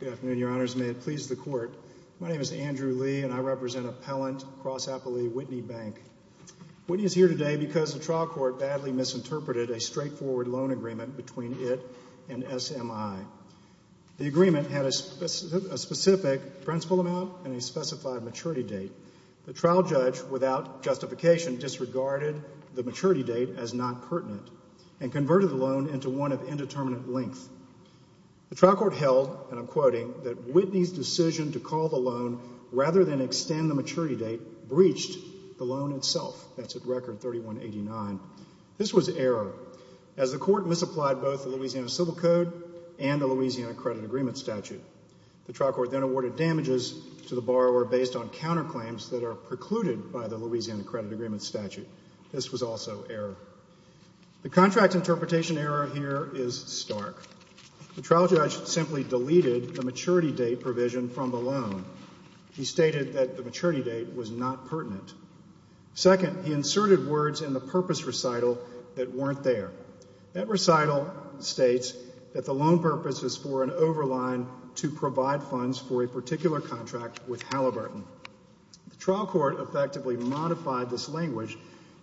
Good afternoon, Your Honors. May it please the Court. My name is Andrew Lee and I represent Appellant Cross-Appley Whitney Bank. Whitney is here today because the trial court badly misinterpreted a straightforward loan agreement between it and SMI. The agreement had a specific principal amount and a specified maturity date. The trial judge, without justification, disregarded the maturity date as not pertinent and converted the loan into one of indeterminate length. The trial court held, and I'm quoting, that Whitney's decision to call the loan rather than extend the maturity date breached the loan itself. That's at Record 3189. This was error as the court misapplied both the Louisiana Civil Code and the Louisiana Credit Agreement statute. The trial court then awarded damages to the borrower based on counterclaims that are precluded by the Louisiana Credit Agreement statute. This was also error. The contract interpretation error here is stark. The trial judge simply deleted the maturity date provision from the loan. He stated that the maturity date was not pertinent. Second, he inserted words in the purpose recital that weren't there. That recital states that the loan purpose is for an overline to provide funds for a particular contract with Halliburton. The trial court effectively modified this language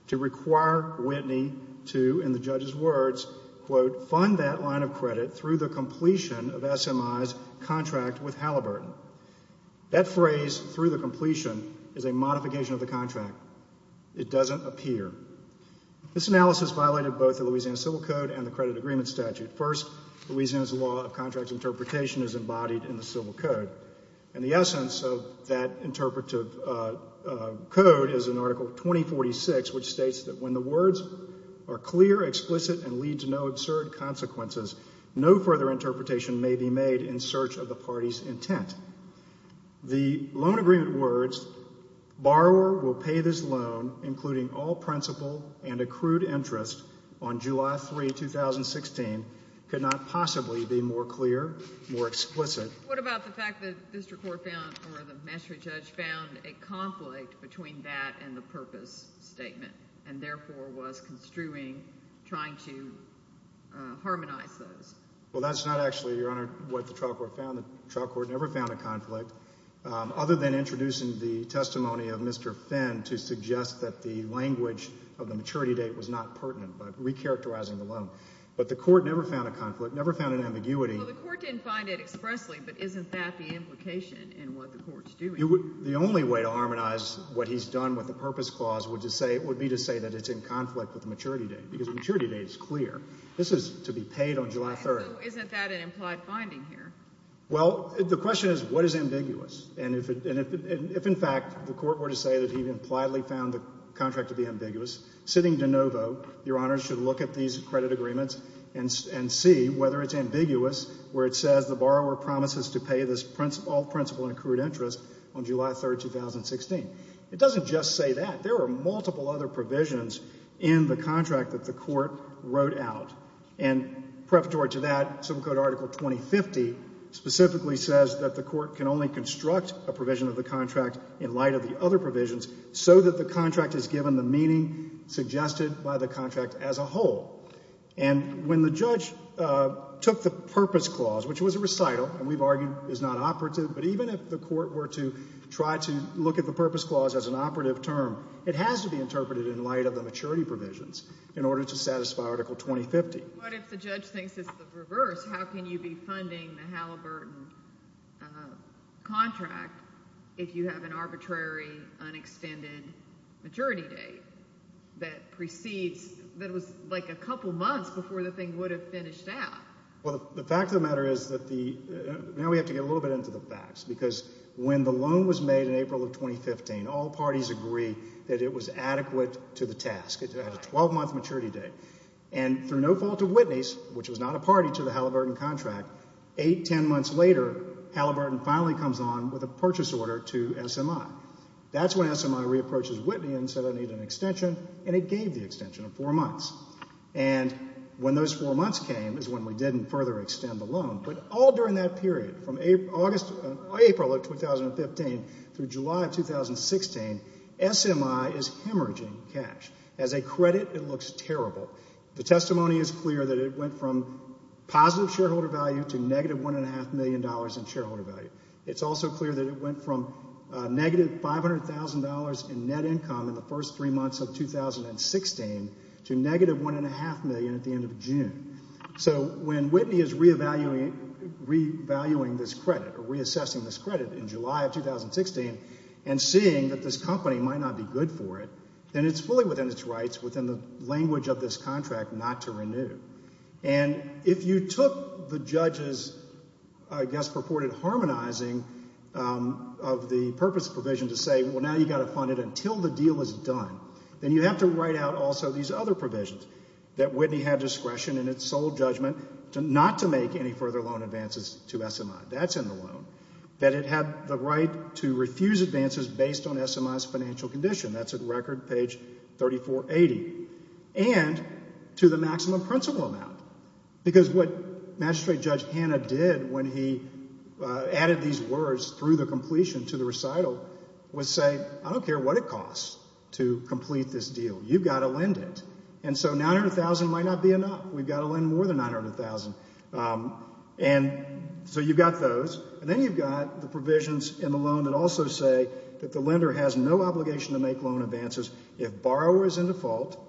to require Whitney to, in the judge's words, quote, fund that line of credit through the completion of SMI's contract with Halliburton. That phrase, through the completion, is a modification of the contract. It doesn't appear. This analysis violated both the Louisiana Civil Code and the Credit Agreement statute. First, Louisiana's law of contract interpretation is embodied in the Civil Code. And the essence of that interpretive code is in Article 2046, which states that when the words are clear, explicit, and lead to no absurd consequences, no further interpretation may be made in search of the party's intent. The loan agreement words, borrower will pay this loan, including all principal and accrued interest, on July 3, 2016, could not possibly be more clear, more explicit. What about the fact that the district court found or the magistrate judge found a conflict between that and the purpose statement and therefore was construing trying to harmonize those? Well, that's not actually, Your Honor, what the trial court found. The trial court never found a conflict other than introducing the testimony of Mr. Finn to suggest that the language of the maturity date was not pertinent, but recharacterizing the loan. But the court never found a conflict, never found an ambiguity. Well, the court didn't find it expressly, but isn't that the implication in what the court's doing? The only way to harmonize what he's done with the purpose clause would be to say that it's in conflict with the maturity date because the maturity date is clear. This is to be paid on July 3. So isn't that an implied finding here? Well, the question is, what is ambiguous? And if, in fact, the court were to say that he impliedly found the contract to be ambiguous, sitting de novo, Your Honor should look at these credit agreements and see whether it's ambiguous where it says the borrower promises to pay this all principal and accrued interest on July 3, 2016. It doesn't just say that. There are multiple other provisions in the contract that the court wrote out. And preparatory to that, Civil Code Article 2050 specifically says that the court can only construct a provision of the contract in light of the other provisions so that the contract is given the meaning suggested by the contract as a whole. And when the judge took the purpose clause, which was a recital and we've argued is not operative, but even if the court were to try to look at the purpose clause as an operative term, it has to be interpreted in light of the maturity provisions in order to satisfy Article 2050. But if the judge thinks it's the reverse, how can you be funding the Halliburton contract if you have an arbitrary, unextended maturity date that precedes – that was like a couple months before the thing would have finished out? Well, the fact of the matter is that the – now we have to get a little bit into the facts because when the loan was made in April of 2015, all parties agree that it was adequate to the task. It had a 12-month maturity date. And through no fault of Whitney's, which was not a party to the Halliburton contract, eight, ten months later, Halliburton finally comes on with a purchase order to SMI. That's when SMI re-approaches Whitney and said I need an extension, and it gave the extension of four months. And when those four months came is when we didn't further extend the loan. But all during that period, from April of 2015 through July of 2016, SMI is hemorrhaging cash. As a credit, it looks terrible. The testimony is clear that it went from positive shareholder value to negative $1.5 million in shareholder value. It's also clear that it went from negative $500,000 in net income in the first three months of 2016 to negative $1.5 million at the end of June. So when Whitney is revaluing this credit or reassessing this credit in July of 2016 and seeing that this company might not be good for it, then it's fully within its rights within the language of this contract not to renew. And if you took the judge's, I guess, purported harmonizing of the purpose provision to say, well, now you've got to fund it until the deal is done, then you have to write out also these other provisions, that Whitney had discretion in its sole judgment not to make any further loan advances to SMI. That's in the loan. That it had the right to refuse advances based on SMI's financial condition. That's at record page 3480. And to the maximum principal amount, because what Magistrate Judge Hanna did when he added these words through the completion to the recital was say, I don't care what it costs to complete this deal. You've got to lend it. And so $900,000 might not be enough. We've got to lend more than $900,000. And so you've got those. And then you've got the provisions in the loan that also say that the lender has no obligation to make loan advances if borrower is in default,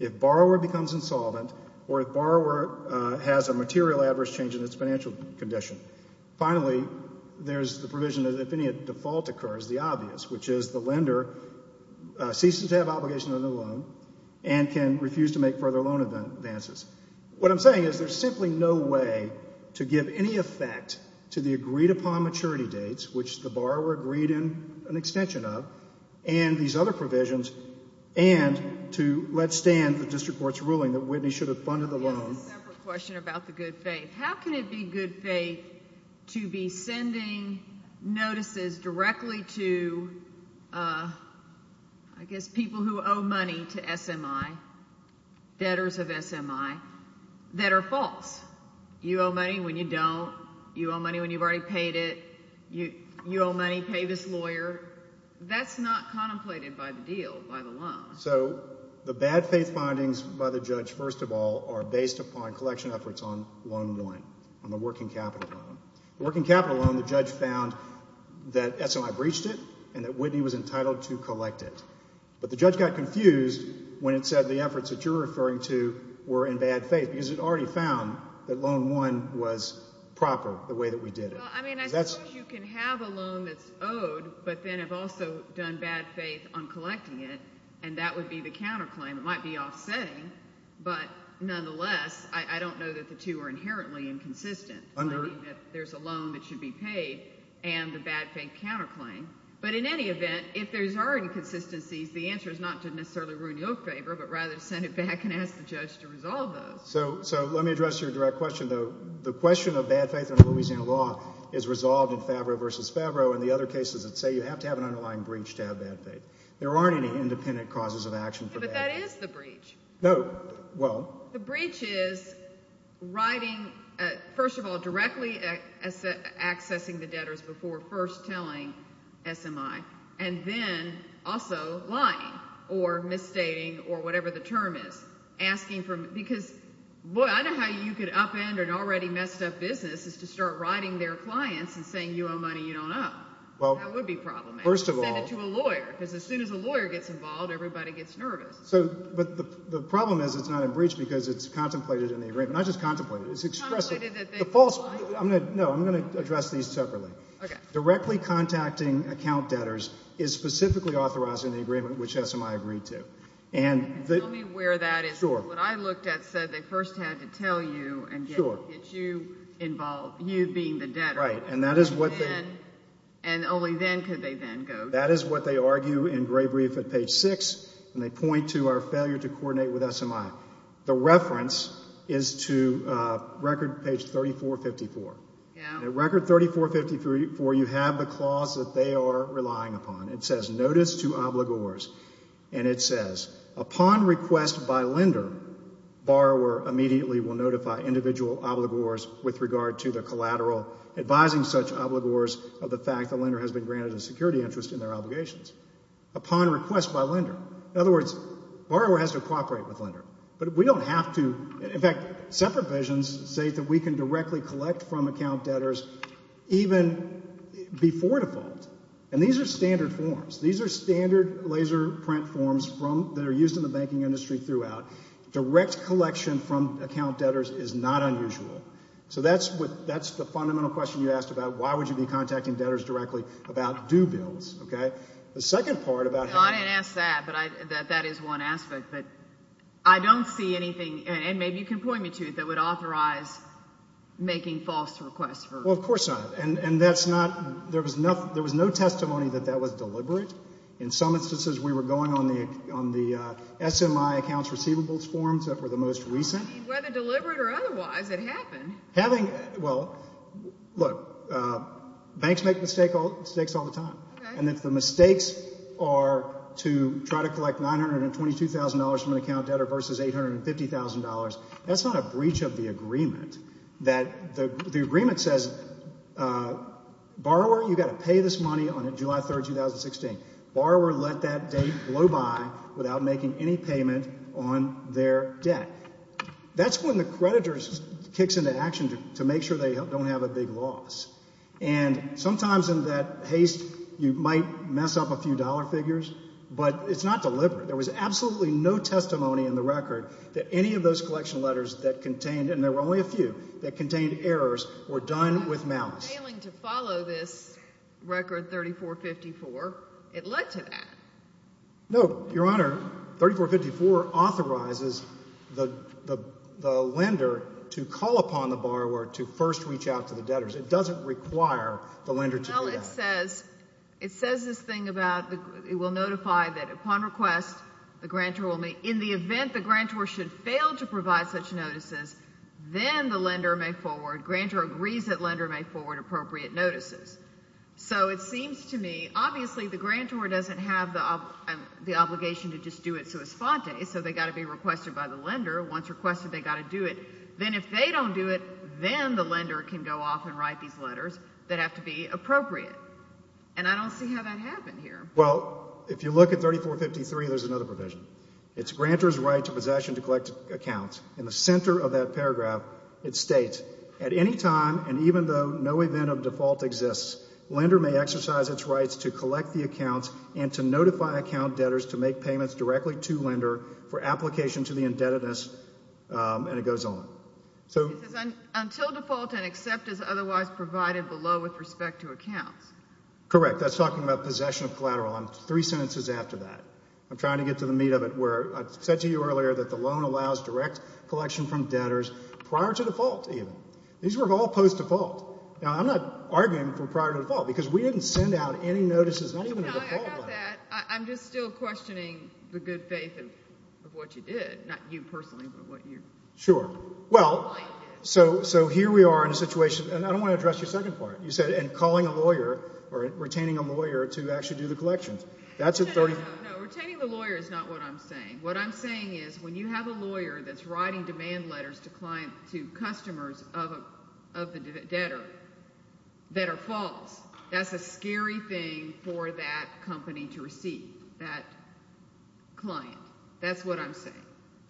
if borrower becomes insolvent, or if borrower has a material adverse change in its financial condition. Finally, there's the provision that if any default occurs, the obvious, which is the lender ceases to have obligation to the loan and can refuse to make further loan advances. What I'm saying is there's simply no way to give any effect to the agreed upon maturity dates, which the borrower agreed in an extension of, and these other provisions, and to let stand the district court's ruling that Whitney should have funded the loan. I have a separate question about the good faith. How can it be good faith to be sending notices directly to, I guess, people who owe money to SMI, debtors of SMI, that are false? You owe money when you don't. You owe money when you've already paid it. You owe money, pay this lawyer. That's not contemplated by the deal, by the loan. So the bad faith findings by the judge, first of all, are based upon collection efforts on loan one, on the working capital loan. The working capital loan, the judge found that SMI breached it and that Whitney was entitled to collect it. But the judge got confused when it said the efforts that you're referring to were in bad faith because it already found that loan one was proper the way that we did it. Well, I mean, I suppose you can have a loan that's owed but then have also done bad faith on collecting it, and that would be the counterclaim. It might be offsetting, but nonetheless, I don't know that the two are inherently inconsistent. I mean, there's a loan that should be paid and the bad faith counterclaim. But in any event, if there are inconsistencies, the answer is not to necessarily ruin your favor but rather to send it back and ask the judge to resolve those. So let me address your direct question, though. The question of bad faith in Louisiana law is resolved in Favreau v. Favreau and the other cases that say you have to have an underlying breach to have bad faith. There aren't any independent causes of action for bad faith. But that is the breach. No. Well. The breach is writing, first of all, directly accessing the debtors before first telling SMI and then also lying or misstating or whatever the term is. Because I don't know how you could upend an already messed up business just to start writing their clients and saying you owe money you don't owe. That would be problematic. First of all. Send it to a lawyer because as soon as a lawyer gets involved, everybody gets nervous. But the problem is it's not a breach because it's contemplated in the agreement. Not just contemplated. It's expressed. Contemplated that they lied? No, I'm going to address these separately. Directly contacting account debtors is specifically authorized in the agreement which SMI agreed to. Tell me where that is. What I looked at said they first had to tell you and get you involved, you being the debtor. Right. And only then could they then go. That is what they argue in Grave Reef at page 6. And they point to our failure to coordinate with SMI. The reference is to record page 3454. At record 3454 you have the clause that they are relying upon. It says notice to obligors. And it says upon request by lender, borrower immediately will notify individual obligors with regard to the collateral, advising such obligors of the fact the lender has been granted a security interest in their obligations. Upon request by lender. In other words, borrower has to cooperate with lender. But we don't have to. In fact, separate visions say that we can directly collect from account debtors even before default. And these are standard forms. These are standard laser print forms that are used in the banking industry throughout. Direct collection from account debtors is not unusual. So that's the fundamental question you asked about. Why would you be contacting debtors directly about due bills? Okay. The second part about how- I didn't ask that, but that is one aspect. But I don't see anything, and maybe you can point me to it, that would authorize making false requests. Well, of course not. And that's not-there was no testimony that that was deliberate. In some instances we were going on the SMI accounts receivables forms that were the most recent. Whether deliberate or otherwise, it happened. Having-well, look, banks make mistakes all the time. And if the mistakes are to try to collect $922,000 from an account debtor versus $850,000, that's not a breach of the agreement. The agreement says, borrower, you've got to pay this money on July 3, 2016. Borrower let that date blow by without making any payment on their debt. That's when the creditor kicks into action to make sure they don't have a big loss. And sometimes in that haste you might mess up a few dollar figures, but it's not deliberate. There was absolutely no testimony in the record that any of those collection letters that contained- that contained errors were done with malice. Failing to follow this record 3454, it led to that. No, Your Honor, 3454 authorizes the lender to call upon the borrower to first reach out to the debtors. It doesn't require the lender to do that. Well, it says this thing about it will notify that upon request the grantor will make- grantor agrees that lender make forward appropriate notices. So it seems to me, obviously the grantor doesn't have the obligation to just do it sua sponte, so they've got to be requested by the lender. Once requested, they've got to do it. Then if they don't do it, then the lender can go off and write these letters that have to be appropriate. And I don't see how that happened here. Well, if you look at 3453, there's another provision. It's grantor's right to possession to collect accounts. In the center of that paragraph, it states, at any time and even though no event of default exists, lender may exercise its rights to collect the accounts and to notify account debtors to make payments directly to lender for application to the indebtedness. And it goes on. Until default and accept is otherwise provided below with respect to accounts. Correct. That's talking about possession of collateral. Three sentences after that. I'm trying to get to the meat of it where I said to you earlier that the loan allows direct collection from debtors prior to default even. These were all post-default. Now, I'm not arguing for prior to default because we didn't send out any notices, not even a default letter. No, I got that. I'm just still questioning the good faith of what you did. Not you personally, but what your client did. Sure. Well, so here we are in a situation, and I don't want to address your second part, you said, in calling a lawyer or retaining a lawyer to actually do the collections. No, no, no. Retaining the lawyer is not what I'm saying. What I'm saying is when you have a lawyer that's writing demand letters to customers of the debtor that are false, that's a scary thing for that company to receive, that client. That's what I'm saying.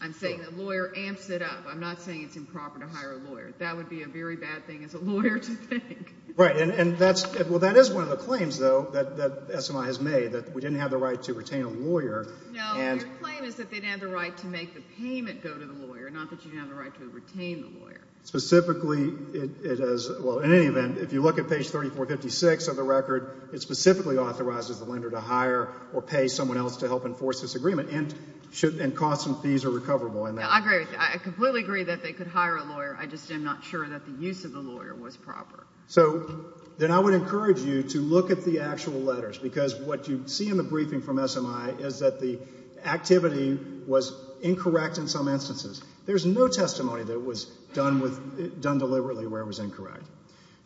I'm saying the lawyer amps it up. I'm not saying it's improper to hire a lawyer. That would be a very bad thing as a lawyer to think. Well, that is one of the claims, though, that SMI has made, that we didn't have the right to retain a lawyer. No, your claim is that they didn't have the right to make the payment go to the lawyer, not that you didn't have the right to retain the lawyer. Specifically, it is, well, in any event, if you look at page 3456 of the record, it specifically authorizes the lender to hire or pay someone else to help enforce this agreement, and costs and fees are recoverable. I agree with you. I completely agree that they could hire a lawyer. I just am not sure that the use of the lawyer was proper. So then I would encourage you to look at the actual letters, because what you see in the briefing from SMI is that the activity was incorrect in some instances. There's no testimony that it was done deliberately where it was incorrect.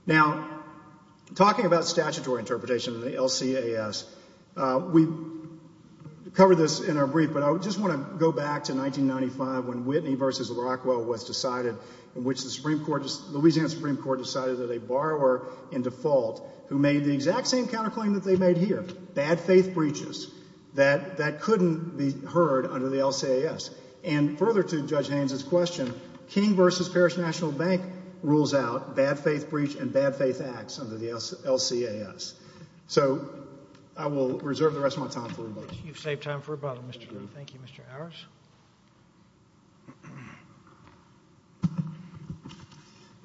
Now, talking about statutory interpretation in the LCAS, we covered this in our brief, but I just want to go back to 1995 when Whitney v. Rockwell was decided, in which the Louisiana Supreme Court decided that a borrower in default who made the exact same counterclaim that they made here, bad faith breaches, that couldn't be heard under the LCAS. And further to Judge Haynes's question, King v. Parish National Bank rules out bad faith breach and bad faith acts under the LCAS. So I will reserve the rest of my time for rebuttal. All right. You've saved time for rebuttal, Mr. Green. Thank you, Mr. Ours.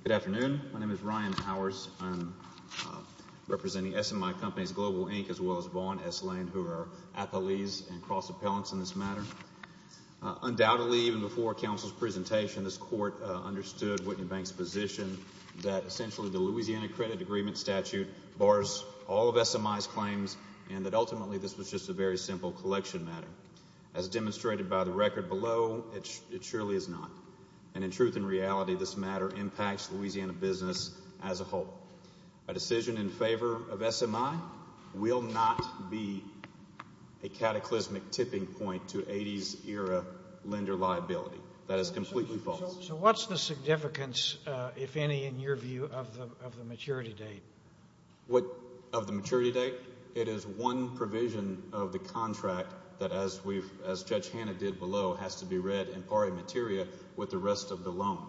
Good afternoon. My name is Ryan Ours. I'm representing SMI Companies Global, Inc., as well as Vaughn S. Lane, who are our athletes and cross-appellants in this matter. Undoubtedly, even before counsel's presentation, this Court understood Whitney Bank's position that essentially the Louisiana Credit Agreement statute bars all of SMI's claims and that ultimately this was just a very simple collection matter. As demonstrated by the record below, it surely is not. And in truth and reality, this matter impacts Louisiana business as a whole. A decision in favor of SMI will not be a cataclysmic tipping point to 80s-era lender liability. That is completely false. So what's the significance, if any, in your view of the maturity date? Of the maturity date? It is one provision of the contract that, as Judge Hanna did below, has to be read in pari materia with the rest of the loan.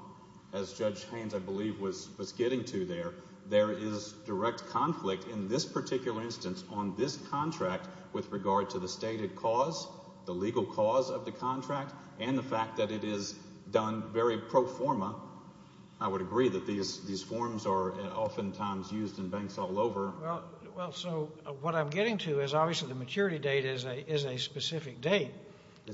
As Judge Haines, I believe, was getting to there, there is direct conflict in this particular instance on this contract with regard to the stated cause, the legal cause of the contract, and the fact that it is done very pro forma. I would agree that these forms are oftentimes used in banks all over. Well, so what I'm getting to is obviously the maturity date is a specific date.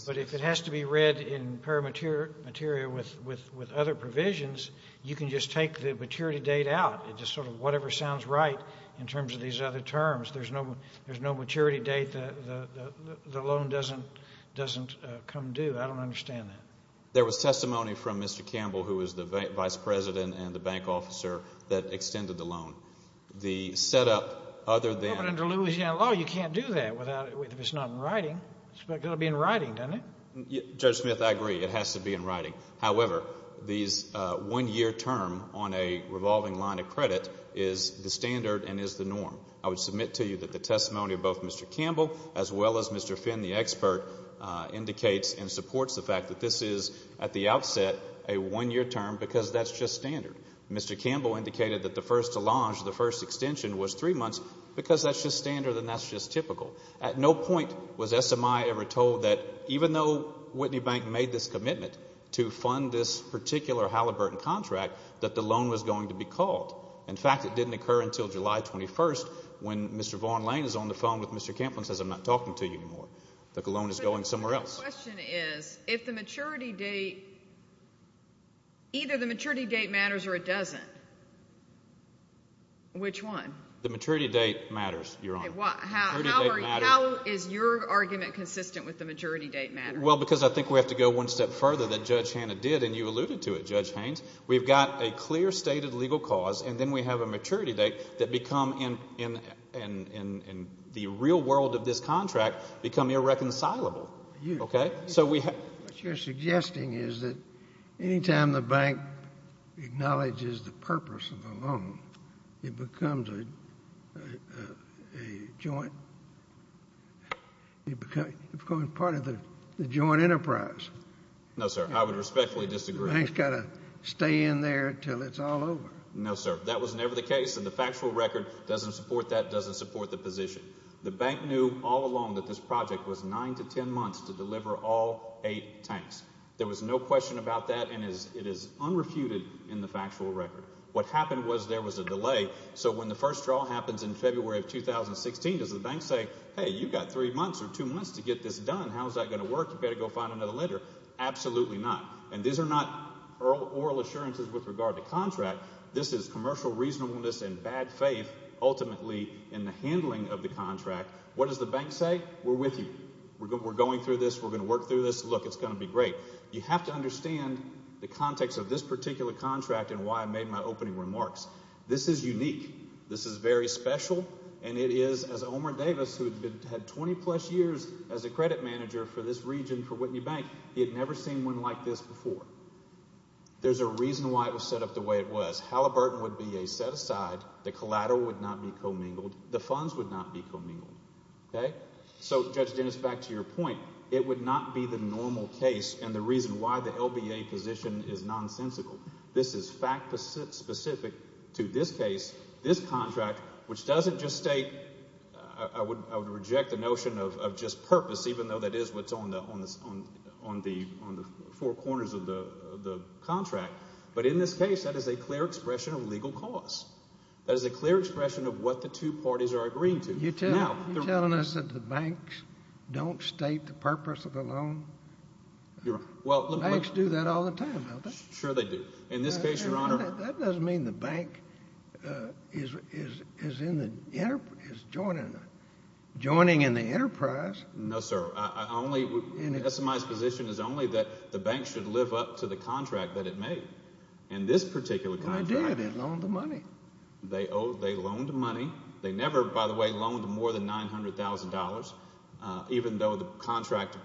But if it has to be read in pari materia with other provisions, you can just take the maturity date out, just sort of whatever sounds right in terms of these other terms. There's no maturity date. The loan doesn't come due. I don't understand that. There was testimony from Mr. Campbell, who is the vice president and the bank officer, that extended the loan. The setup other than— Well, but under Louisiana law, you can't do that if it's not in writing. It's got to be in writing, doesn't it? Judge Smith, I agree. It has to be in writing. However, these one-year term on a revolving line of credit is the standard and is the norm. I would submit to you that the testimony of both Mr. Campbell as well as Mr. Finn, the expert, indicates and supports the fact that this is at the outset a one-year term because that's just standard. Mr. Campbell indicated that the first allonge, the first extension, was three months because that's just standard and that's just typical. At no point was SMI ever told that even though Whitney Bank made this commitment to fund this particular Halliburton contract, that the loan was going to be called. In fact, it didn't occur until July 21st when Mr. Vaughn Lane is on the phone with Mr. Campbell and says, I'm not talking to you anymore. The loan is going somewhere else. But my question is, if the maturity date—either the maturity date matters or it doesn't, which one? The maturity date matters, Your Honor. How is your argument consistent with the maturity date matter? Well, because I think we have to go one step further than Judge Hanna did, and you alluded to it, Judge Haynes. We've got a clear stated legal cause, and then we have a maturity date that become, in the real world of this contract, become irreconcilable. Okay? What you're suggesting is that any time the bank acknowledges the purpose of the loan, it becomes a joint—it becomes part of the joint enterprise. No, sir. I would respectfully disagree. The bank's got to stay in there until it's all over. No, sir. That was never the case, and the factual record doesn't support that, doesn't support the position. The bank knew all along that this project was nine to ten months to deliver all eight tanks. There was no question about that, and it is unrefuted in the factual record. What happened was there was a delay, so when the first draw happens in February of 2016, does the bank say, hey, you've got three months or two months to get this done. How is that going to work? You better go find another lender. Absolutely not, and these are not oral assurances with regard to contract. This is commercial reasonableness and bad faith, ultimately, in the handling of the contract. What does the bank say? We're with you. We're going through this. We're going to work through this. Look, it's going to be great. You have to understand the context of this particular contract and why I made my opening remarks. This is unique. This is very special, and it is, as Omer Davis, who had 20-plus years as a credit manager for this region for Whitney Bank, he had never seen one like this before. There's a reason why it was set up the way it was. Halliburton would be a set-aside. The collateral would not be commingled. The funds would not be commingled. So, Judge Dennis, back to your point, it would not be the normal case and the reason why the LBA position is nonsensical. This is fact-specific to this case, this contract, which doesn't just state, I would reject the notion of just purpose, even though that is what's on the four corners of the contract. But in this case, that is a clear expression of legal cause. That is a clear expression of what the two parties are agreeing to. You're telling us that the banks don't state the purpose of the loan? Banks do that all the time, don't they? Sure they do. In this case, Your Honor— That doesn't mean the bank is joining in the enterprise. No, sir. SMI's position is only that the bank should live up to the contract that it made. In this particular contract— They did. They loaned the money. They loaned the money. They never, by the way, loaned more than $900,000, even though the contract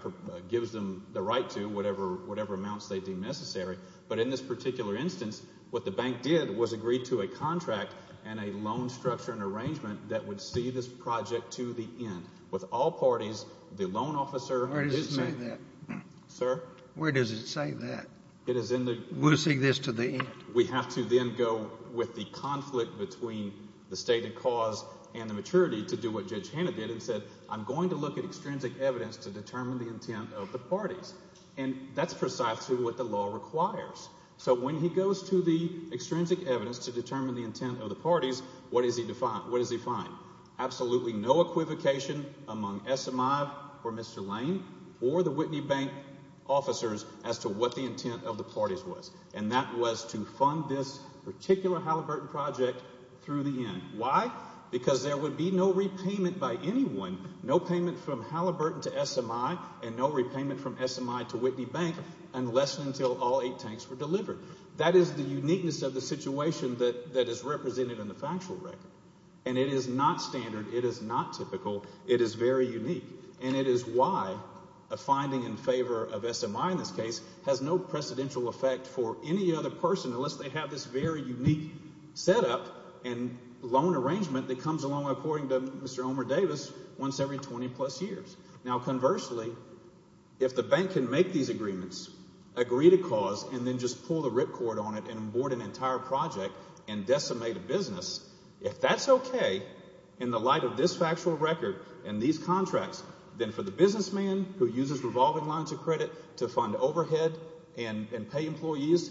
gives them the right to, whatever amounts they deem necessary. But in this particular instance, what the bank did was agree to a contract and a loan structure and arrangement that would see this project to the end. With all parties, the loan officer— Where does it say that? Sir? Where does it say that? It is in the— We'll see this to the end. We have to then go with the conflict between the stated cause and the maturity to do what Judge Hanna did and said, I'm going to look at extrinsic evidence to determine the intent of the parties. And that's precisely what the law requires. So when he goes to the extrinsic evidence to determine the intent of the parties, what does he find? Absolutely no equivocation among SMI or Mr. Lane or the Whitney Bank officers as to what the intent of the parties was, and that was to fund this particular Halliburton project through the end. Why? Because there would be no repayment by anyone, no payment from Halliburton to SMI and no repayment from SMI to Whitney Bank unless and until all eight tanks were delivered. That is the uniqueness of the situation that is represented in the factual record, and it is not standard. It is not typical. It is very unique, and it is why a finding in favor of SMI in this case has no precedential effect for any other person unless they have this very unique setup and loan arrangement that comes along according to Mr. Omer Davis once every 20-plus years. Now, conversely, if the bank can make these agreements, agree to cause, and then just pull the ripcord on it and abort an entire project and decimate a business, if that's okay in the light of this factual record and these contracts, then for the businessman who uses revolving lines of credit to fund overhead and pay employees,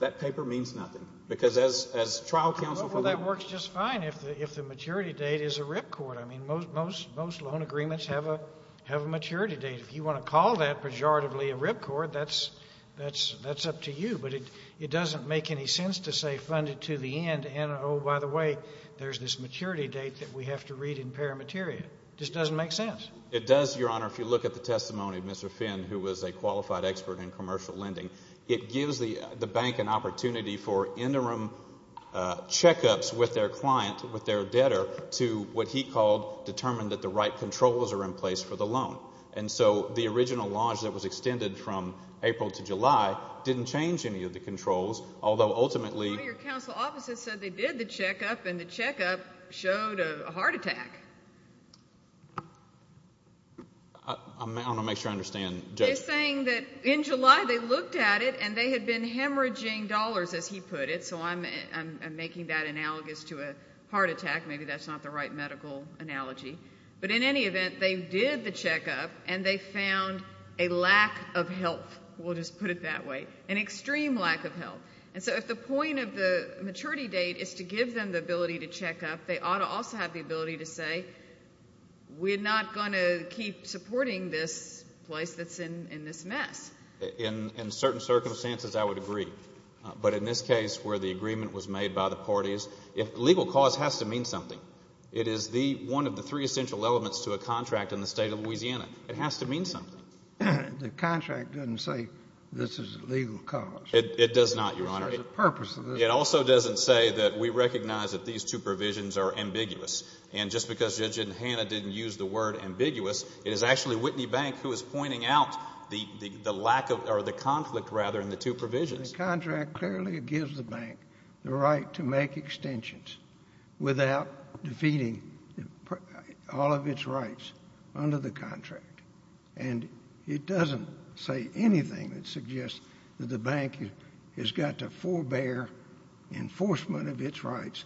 that paper means nothing because as trial counsel for the— The maturity date is a ripcord. I mean, most loan agreements have a maturity date. If you want to call that pejoratively a ripcord, that's up to you, but it doesn't make any sense to say fund it to the end and, oh, by the way, there's this maturity date that we have to read in paramateria. It just doesn't make sense. It does, Your Honor, if you look at the testimony of Mr. Finn, who was a qualified expert in commercial lending. It gives the bank an opportunity for interim checkups with their client, with their debtor, to what he called determine that the right controls are in place for the loan. And so the original launch that was extended from April to July didn't change any of the controls, although ultimately— One of your counsel officers said they did the checkup and the checkup showed a heart attack. I want to make sure I understand, Judge. They're saying that in July they looked at it and they had been hemorrhaging dollars, as he put it, so I'm making that analogous to a heart attack. Maybe that's not the right medical analogy. But in any event, they did the checkup, and they found a lack of help, we'll just put it that way, an extreme lack of help. And so if the point of the maturity date is to give them the ability to check up, they ought to also have the ability to say, we're not going to keep supporting this place that's in this mess. In certain circumstances, I would agree. But in this case where the agreement was made by the parties, legal cause has to mean something. It is one of the three essential elements to a contract in the state of Louisiana. It has to mean something. The contract doesn't say this is legal cause. It does not, Your Honor. It also doesn't say that we recognize that these two provisions are ambiguous. And just because Judge Hanna didn't use the word ambiguous, it is actually Whitney Bank who is pointing out the conflict in the two provisions. Because the contract clearly gives the bank the right to make extensions without defeating all of its rights under the contract. And it doesn't say anything that suggests that the bank has got to forbear enforcement of its rights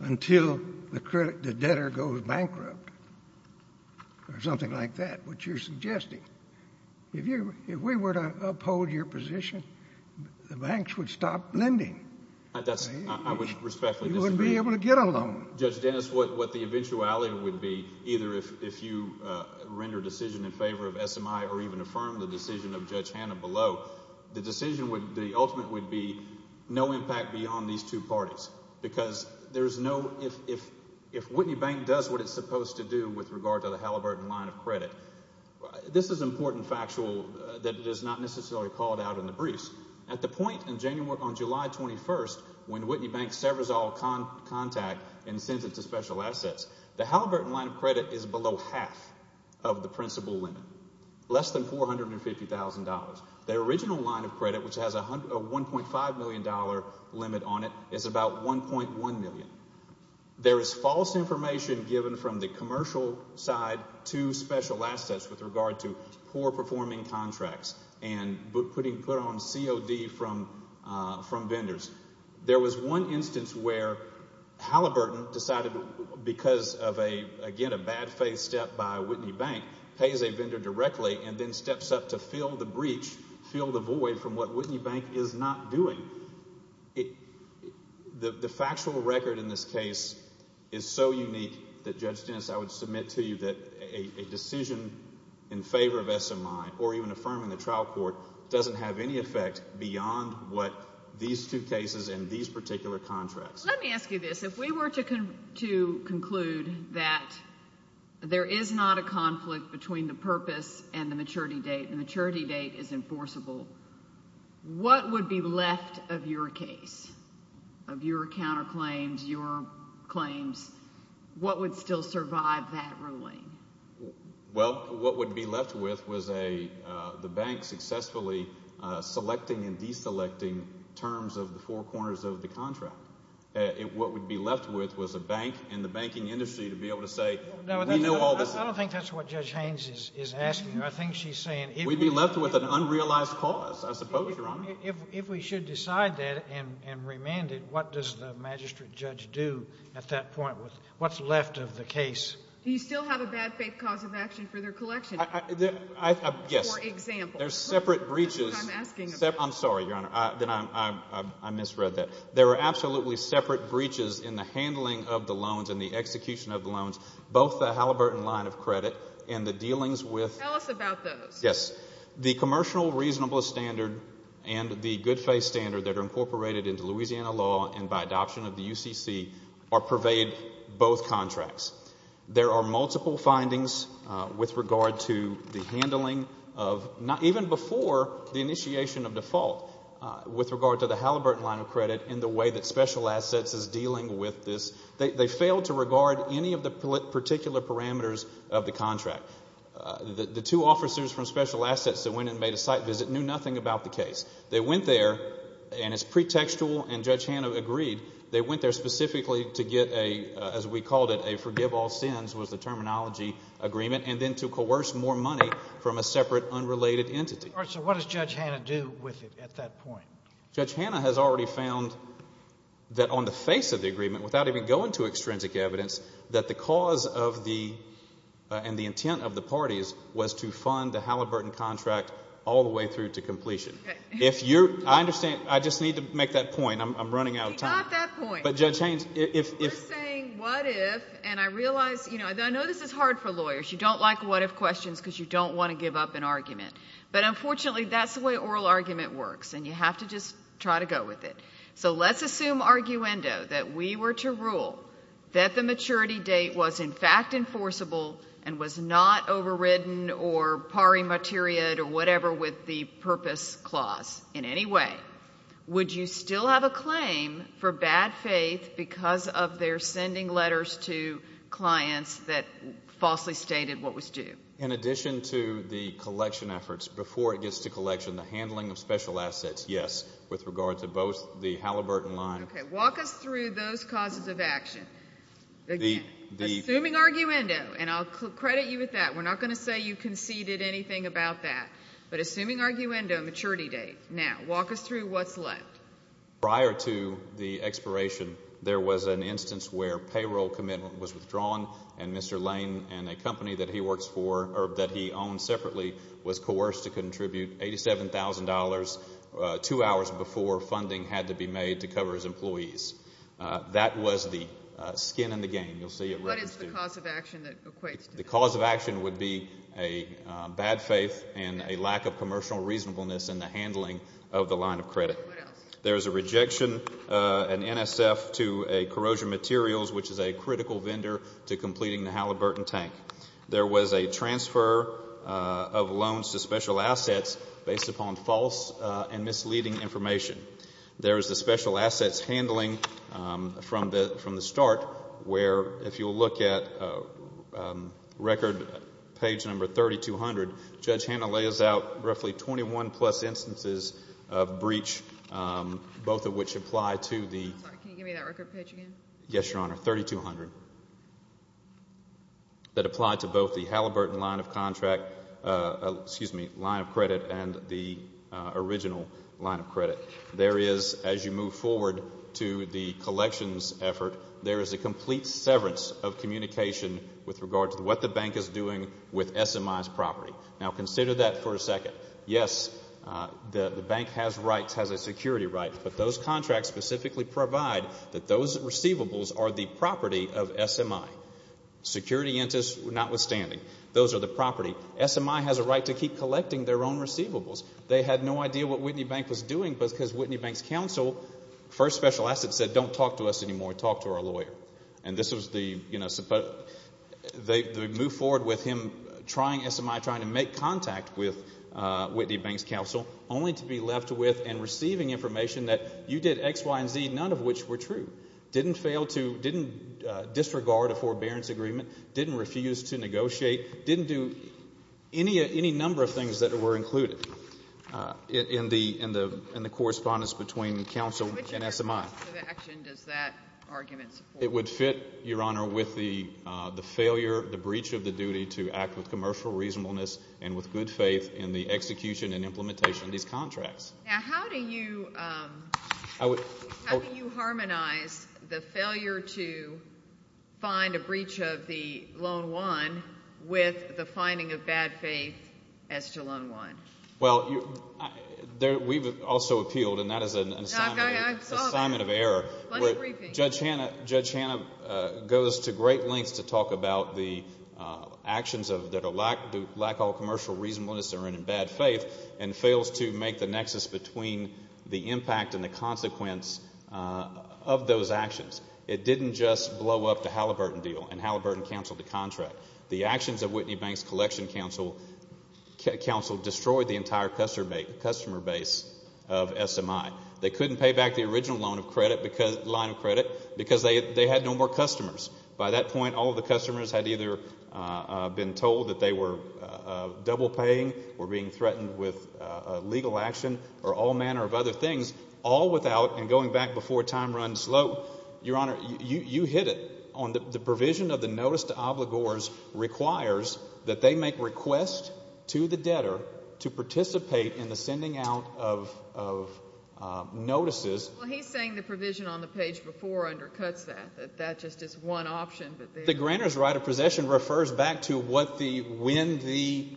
until the debtor goes bankrupt or something like that, which you're suggesting. If we were to uphold your position, the banks would stop lending. I would respectfully disagree. You wouldn't be able to get a loan. Judge Dennis, what the eventuality would be, either if you render a decision in favor of SMI or even affirm the decision of Judge Hanna below, the ultimate would be no impact beyond these two parties. Because if Whitney Bank does what it's supposed to do with regard to the Halliburton line of credit, this is important factual that is not necessarily called out in the briefs. At the point in January, on July 21st, when Whitney Bank severs all contact and sends it to special assets, the Halliburton line of credit is below half of the principal limit, less than $450,000. The original line of credit, which has a $1.5 million limit on it, is about $1.1 million. There is false information given from the commercial side to special assets with regard to poor-performing contracts and putting put on COD from vendors. There was one instance where Halliburton decided, because of, again, a bad faith step by Whitney Bank, pays a vendor directly and then steps up to fill the breach, fill the void from what Whitney Bank is not doing. The factual record in this case is so unique that, Judge Dennis, I would submit to you that a decision in favor of SMI or even affirming the trial court doesn't have any effect beyond what these two cases and these particular contracts. Let me ask you this. If we were to conclude that there is not a conflict between the purpose and the maturity date, and the maturity date is enforceable, what would be left of your case, of your counterclaims, your claims? What would still survive that ruling? Well, what would be left with was the bank successfully selecting and deselecting terms of the four corners of the contract. What would be left with was a bank and the banking industry to be able to say we know all this. I don't think that's what Judge Haynes is asking. I think she's saying— We'd be left with an unrealized cause, I suppose, Your Honor. If we should decide that and remand it, what does the magistrate judge do at that point? What's left of the case? Do you still have a bad faith cause of action for their collection? Yes. For example? There's separate breaches— That's what I'm asking about. I'm sorry, Your Honor. I misread that. There are absolutely separate breaches in the handling of the loans and the execution of the loans, both the Halliburton line of credit and the dealings with— Tell us about those. Yes. The commercial reasonable standard and the good faith standard that are incorporated into Louisiana law and by adoption of the UCC pervade both contracts. There are multiple findings with regard to the handling of—even before the initiation of default with regard to the Halliburton line of credit and the way that special assets is dealing with this. They failed to regard any of the particular parameters of the contract. The two officers from special assets that went and made a site visit knew nothing about the case. They went there, and it's pretextual, and Judge Hanna agreed. They went there specifically to get a, as we called it, a forgive all sins was the terminology agreement, and then to coerce more money from a separate unrelated entity. All right, so what does Judge Hanna do with it at that point? Judge Hanna has already found that on the face of the agreement, without even going to extrinsic evidence, that the cause of the and the intent of the parties was to fund the Halliburton contract all the way through to completion. If you're—I understand. I just need to make that point. I'm running out of time. Not that point. But, Judge Haines, if— We're saying what if, and I realize, you know, I know this is hard for lawyers. But, unfortunately, that's the way oral argument works, and you have to just try to go with it. So let's assume, arguendo, that we were to rule that the maturity date was, in fact, enforceable and was not overridden or pari materia or whatever with the purpose clause in any way. Would you still have a claim for bad faith because of their sending letters to clients that falsely stated what was due? In addition to the collection efforts, before it gets to collection, the handling of special assets, yes, with regard to both the Halliburton line— Okay. Walk us through those causes of action. Assuming arguendo, and I'll credit you with that. We're not going to say you conceded anything about that. But assuming arguendo, maturity date. Now, walk us through what's left. Prior to the expiration, there was an instance where payroll commitment was withdrawn, and Mr. Lane and a company that he owned separately was coerced to contribute $87,000 two hours before funding had to be made to cover his employees. That was the skin in the game. You'll see it right here. What is the cause of action that equates to that? The cause of action would be a bad faith and a lack of commercial reasonableness in the handling of the line of credit. What else? There is a rejection, an NSF, to a corrosion materials, which is a critical vendor to completing the Halliburton tank. There was a transfer of loans to special assets based upon false and misleading information. There is the special assets handling from the start where, if you'll look at record page number 3200, Judge Hanna lays out roughly 21-plus instances of breach, both of which apply to the Can you give me that record page again? Yes, Your Honor, 3200. That apply to both the Halliburton line of credit and the original line of credit. There is, as you move forward to the collections effort, there is a complete severance of communication with regard to what the bank is doing with SMI's property. Now, consider that for a second. Yes, the bank has rights, has a security right, but those contracts specifically provide that those receivables are the property of SMI, security interest notwithstanding. Those are the property. SMI has a right to keep collecting their own receivables. They had no idea what Whitney Bank was doing because Whitney Bank's counsel for special assets said, Don't talk to us anymore. Talk to our lawyer. And this was the, you know, they move forward with him trying SMI, trying to make contact with Whitney Bank's counsel, only to be left with and receiving information that you did X, Y, and Z, none of which were true. Didn't fail to, didn't disregard a forbearance agreement, didn't refuse to negotiate, didn't do any number of things that were included in the correspondence between counsel and SMI. What type of action does that argument support? It would fit, Your Honor, with the failure, the breach of the duty to act with commercial reasonableness and with good faith in the execution and implementation of these contracts. Now, how do you harmonize the failure to find a breach of the Loan I with the finding of bad faith as to Loan I? Well, we've also appealed, and that is an assignment of error. Judge Hannah goes to great lengths to talk about the actions that lack all commercial reasonableness or are in bad faith and fails to make the nexus between the impact and the consequence of those actions. It didn't just blow up the Halliburton deal and Halliburton canceled the contract. The actions of Whitney Bank's collection counsel destroyed the entire customer base of SMI. They couldn't pay back the original line of credit because they had no more customers. By that point, all of the customers had either been told that they were double paying or being threatened with a legal action or all manner of other things, all without and going back before time runs slow. Your Honor, you hit it on the provision of the notice to obligors requires that they make requests to the debtor to participate in the sending out of notices. Well, he's saying the provision on the page before undercuts that, that that just is one option. The granter's right of possession refers back to when the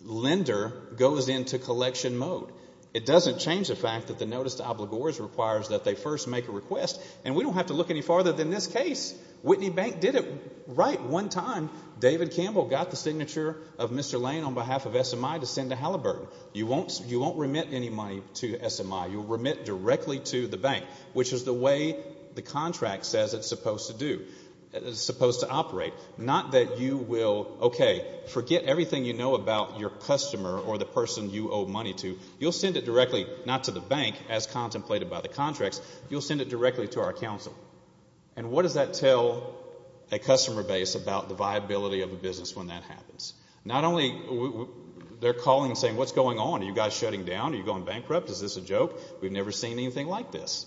lender goes into collection mode. It doesn't change the fact that the notice to obligors requires that they first make a request, and we don't have to look any farther than this case. Whitney Bank did it right one time. David Campbell got the signature of Mr. Lane on behalf of SMI to send to Halliburton. You won't remit any money to SMI. You'll remit directly to the bank, which is the way the contract says it's supposed to do, supposed to operate. Not that you will, okay, forget everything you know about your customer or the person you owe money to. You'll send it directly not to the bank as contemplated by the contracts. You'll send it directly to our counsel. And what does that tell a customer base about the viability of a business when that happens? Not only they're calling and saying, what's going on? Are you guys shutting down? Are you going bankrupt? Is this a joke? We've never seen anything like this.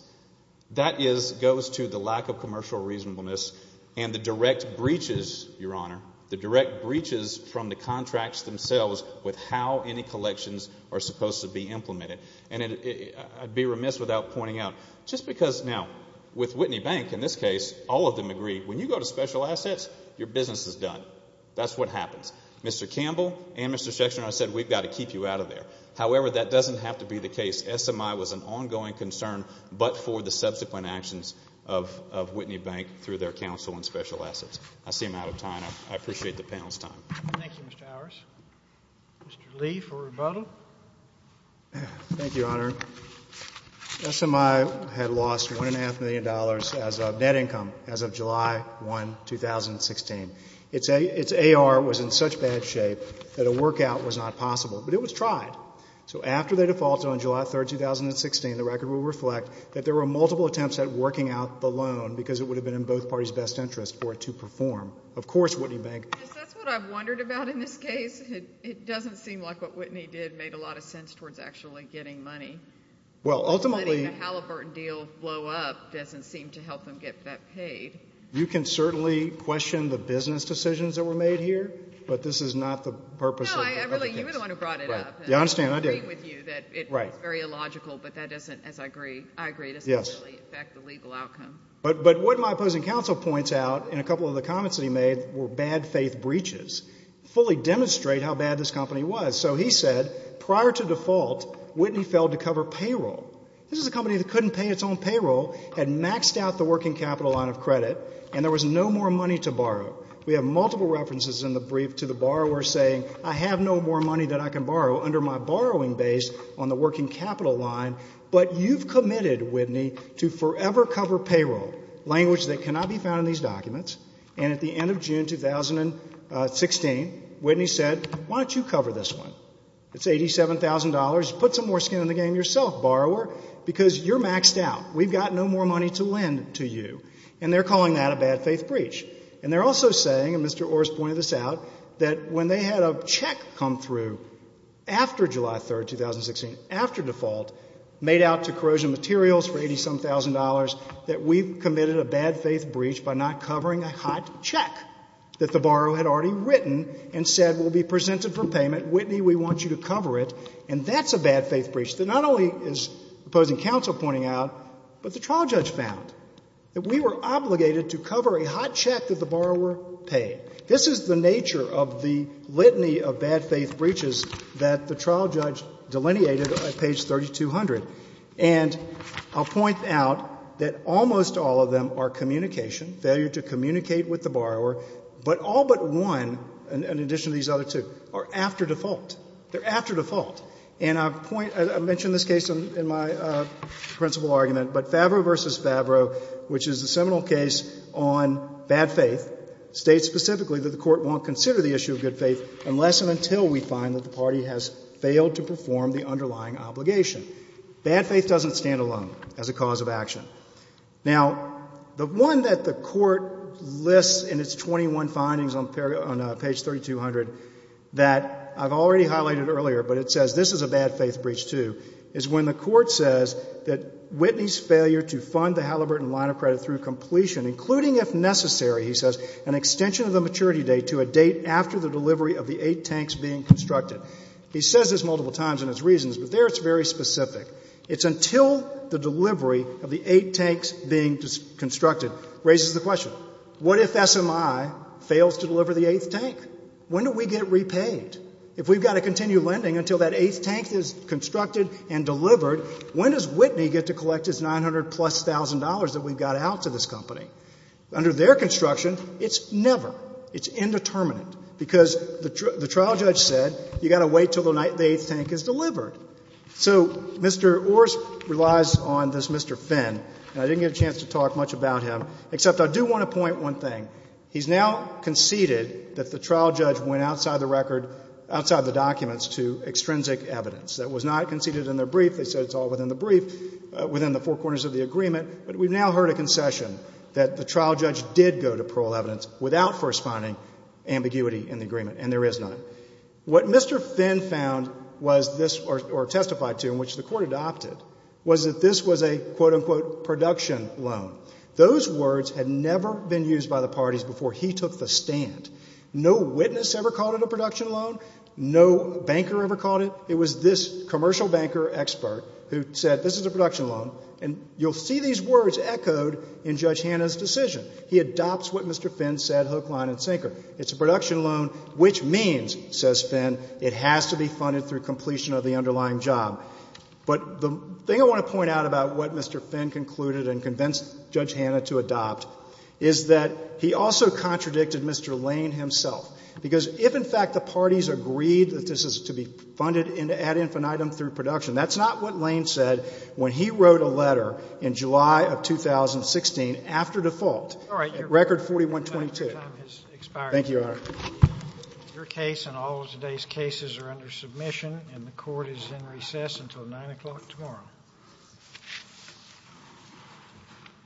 That goes to the lack of commercial reasonableness and the direct breaches, Your Honor, the direct breaches from the contracts themselves with how any collections are supposed to be implemented. And I'd be remiss without pointing out, just because now with Whitney Bank, in this case, all of them agree, when you go to special assets, your business is done. That's what happens. Mr. Campbell and Mr. Schechter and I said we've got to keep you out of there. However, that doesn't have to be the case. SMI was an ongoing concern but for the subsequent actions of Whitney Bank through their counsel and special assets. I see I'm out of time. I appreciate the panel's time. Thank you, Mr. Howers. Mr. Lee for rebuttal. Thank you, Your Honor. SMI had lost $1.5 million as of net income as of July 1, 2016. Its AR was in such bad shape that a workout was not possible, but it was tried. So after they defaulted on July 3, 2016, the record will reflect that there were multiple attempts at working out the loan because it would have been in both parties' best interest for it to perform. Of course, Whitney Bank That's what I've wondered about in this case. It doesn't seem like what Whitney did made a lot of sense towards actually getting money. Well, ultimately Letting the Halliburton deal blow up doesn't seem to help them get that paid. You can certainly question the business decisions that were made here, but this is not the purpose of the case. No, I really, you were the one who brought it up. Yeah, I understand. I agree with you that it was very illogical, but that doesn't, as I agree, I agree, But what my opposing counsel points out in a couple of the comments that he made were bad faith breaches. Fully demonstrate how bad this company was. So he said, prior to default, Whitney failed to cover payroll. This is a company that couldn't pay its own payroll, had maxed out the working capital line of credit, and there was no more money to borrow. We have multiple references in the brief to the borrower saying, I have no more money that I can borrow under my borrowing base on the working capital line, but you've committed, Whitney, to forever cover payroll, language that cannot be found in these documents. And at the end of June 2016, Whitney said, why don't you cover this one? It's $87,000. Put some more skin in the game yourself, borrower, because you're maxed out. We've got no more money to lend to you. And they're calling that a bad faith breach. And they're also saying, and Mr. Orr has pointed this out, that when they had a check come through after July 3, 2016, after default, made out to corrosion materials for $87,000, that we've committed a bad faith breach by not covering a hot check that the borrower had already written and said will be presented for payment. Whitney, we want you to cover it. And that's a bad faith breach that not only is opposing counsel pointing out, but the trial judge found that we were obligated to cover a hot check that the borrower paid. This is the nature of the litany of bad faith breaches that the trial judge delineated at page 3200. And I'll point out that almost all of them are communication, failure to communicate with the borrower, but all but one, in addition to these other two, are after default. They're after default. And I point to this case in my principal argument, but Favreau v. Favreau, which issue of good faith unless and until we find that the party has failed to perform the underlying obligation. Bad faith doesn't stand alone as a cause of action. Now, the one that the Court lists in its 21 findings on page 3200 that I've already highlighted earlier, but it says this is a bad faith breach, too, is when the Court says that Whitney's failure to fund the Halliburton line of credit through completion, including if necessary, he says, an extension of the maturity date to a date after the delivery of the eight tanks being constructed. He says this multiple times in his reasons, but there it's very specific. It's until the delivery of the eight tanks being constructed raises the question, what if SMI fails to deliver the eighth tank? When do we get repaid? If we've got to continue lending until that eighth tank is constructed and delivered, when does Whitney get to collect its 900-plus thousand dollars that we've got out to this company? Under their construction, it's never. It's indeterminate, because the trial judge said you've got to wait until the eighth tank is delivered. So Mr. Orr relies on this Mr. Finn, and I didn't get a chance to talk much about him, except I do want to point one thing. He's now conceded that the trial judge went outside the record, outside the documents to extrinsic evidence. That was not conceded in the brief. They said it's all within the brief, within the four corners of the agreement. But we've now heard a concession that the trial judge did go to parole evidence without first finding ambiguity in the agreement, and there is none. What Mr. Finn found was this, or testified to, in which the court adopted, was that this was a, quote, unquote, production loan. Those words had never been used by the parties before he took the stand. No witness ever called it a production loan. No banker ever called it. It was this commercial banker expert who said this is a production loan, and you'll see these words echoed in Judge Hannah's decision. He adopts what Mr. Finn said hook, line, and sinker. It's a production loan, which means, says Finn, it has to be funded through completion of the underlying job. But the thing I want to point out about what Mr. Finn concluded and convinced Judge Hannah to adopt is that he also contradicted Mr. Lane himself, because if, in fact, the parties agreed that this is to be funded ad infinitum through production, that's not what Lane said when he wrote a letter in July of 2016, after default, record 4122. Thank you, Your Honor. Your case and all of today's cases are under submission, and the court is in recess until 9 o'clock tomorrow.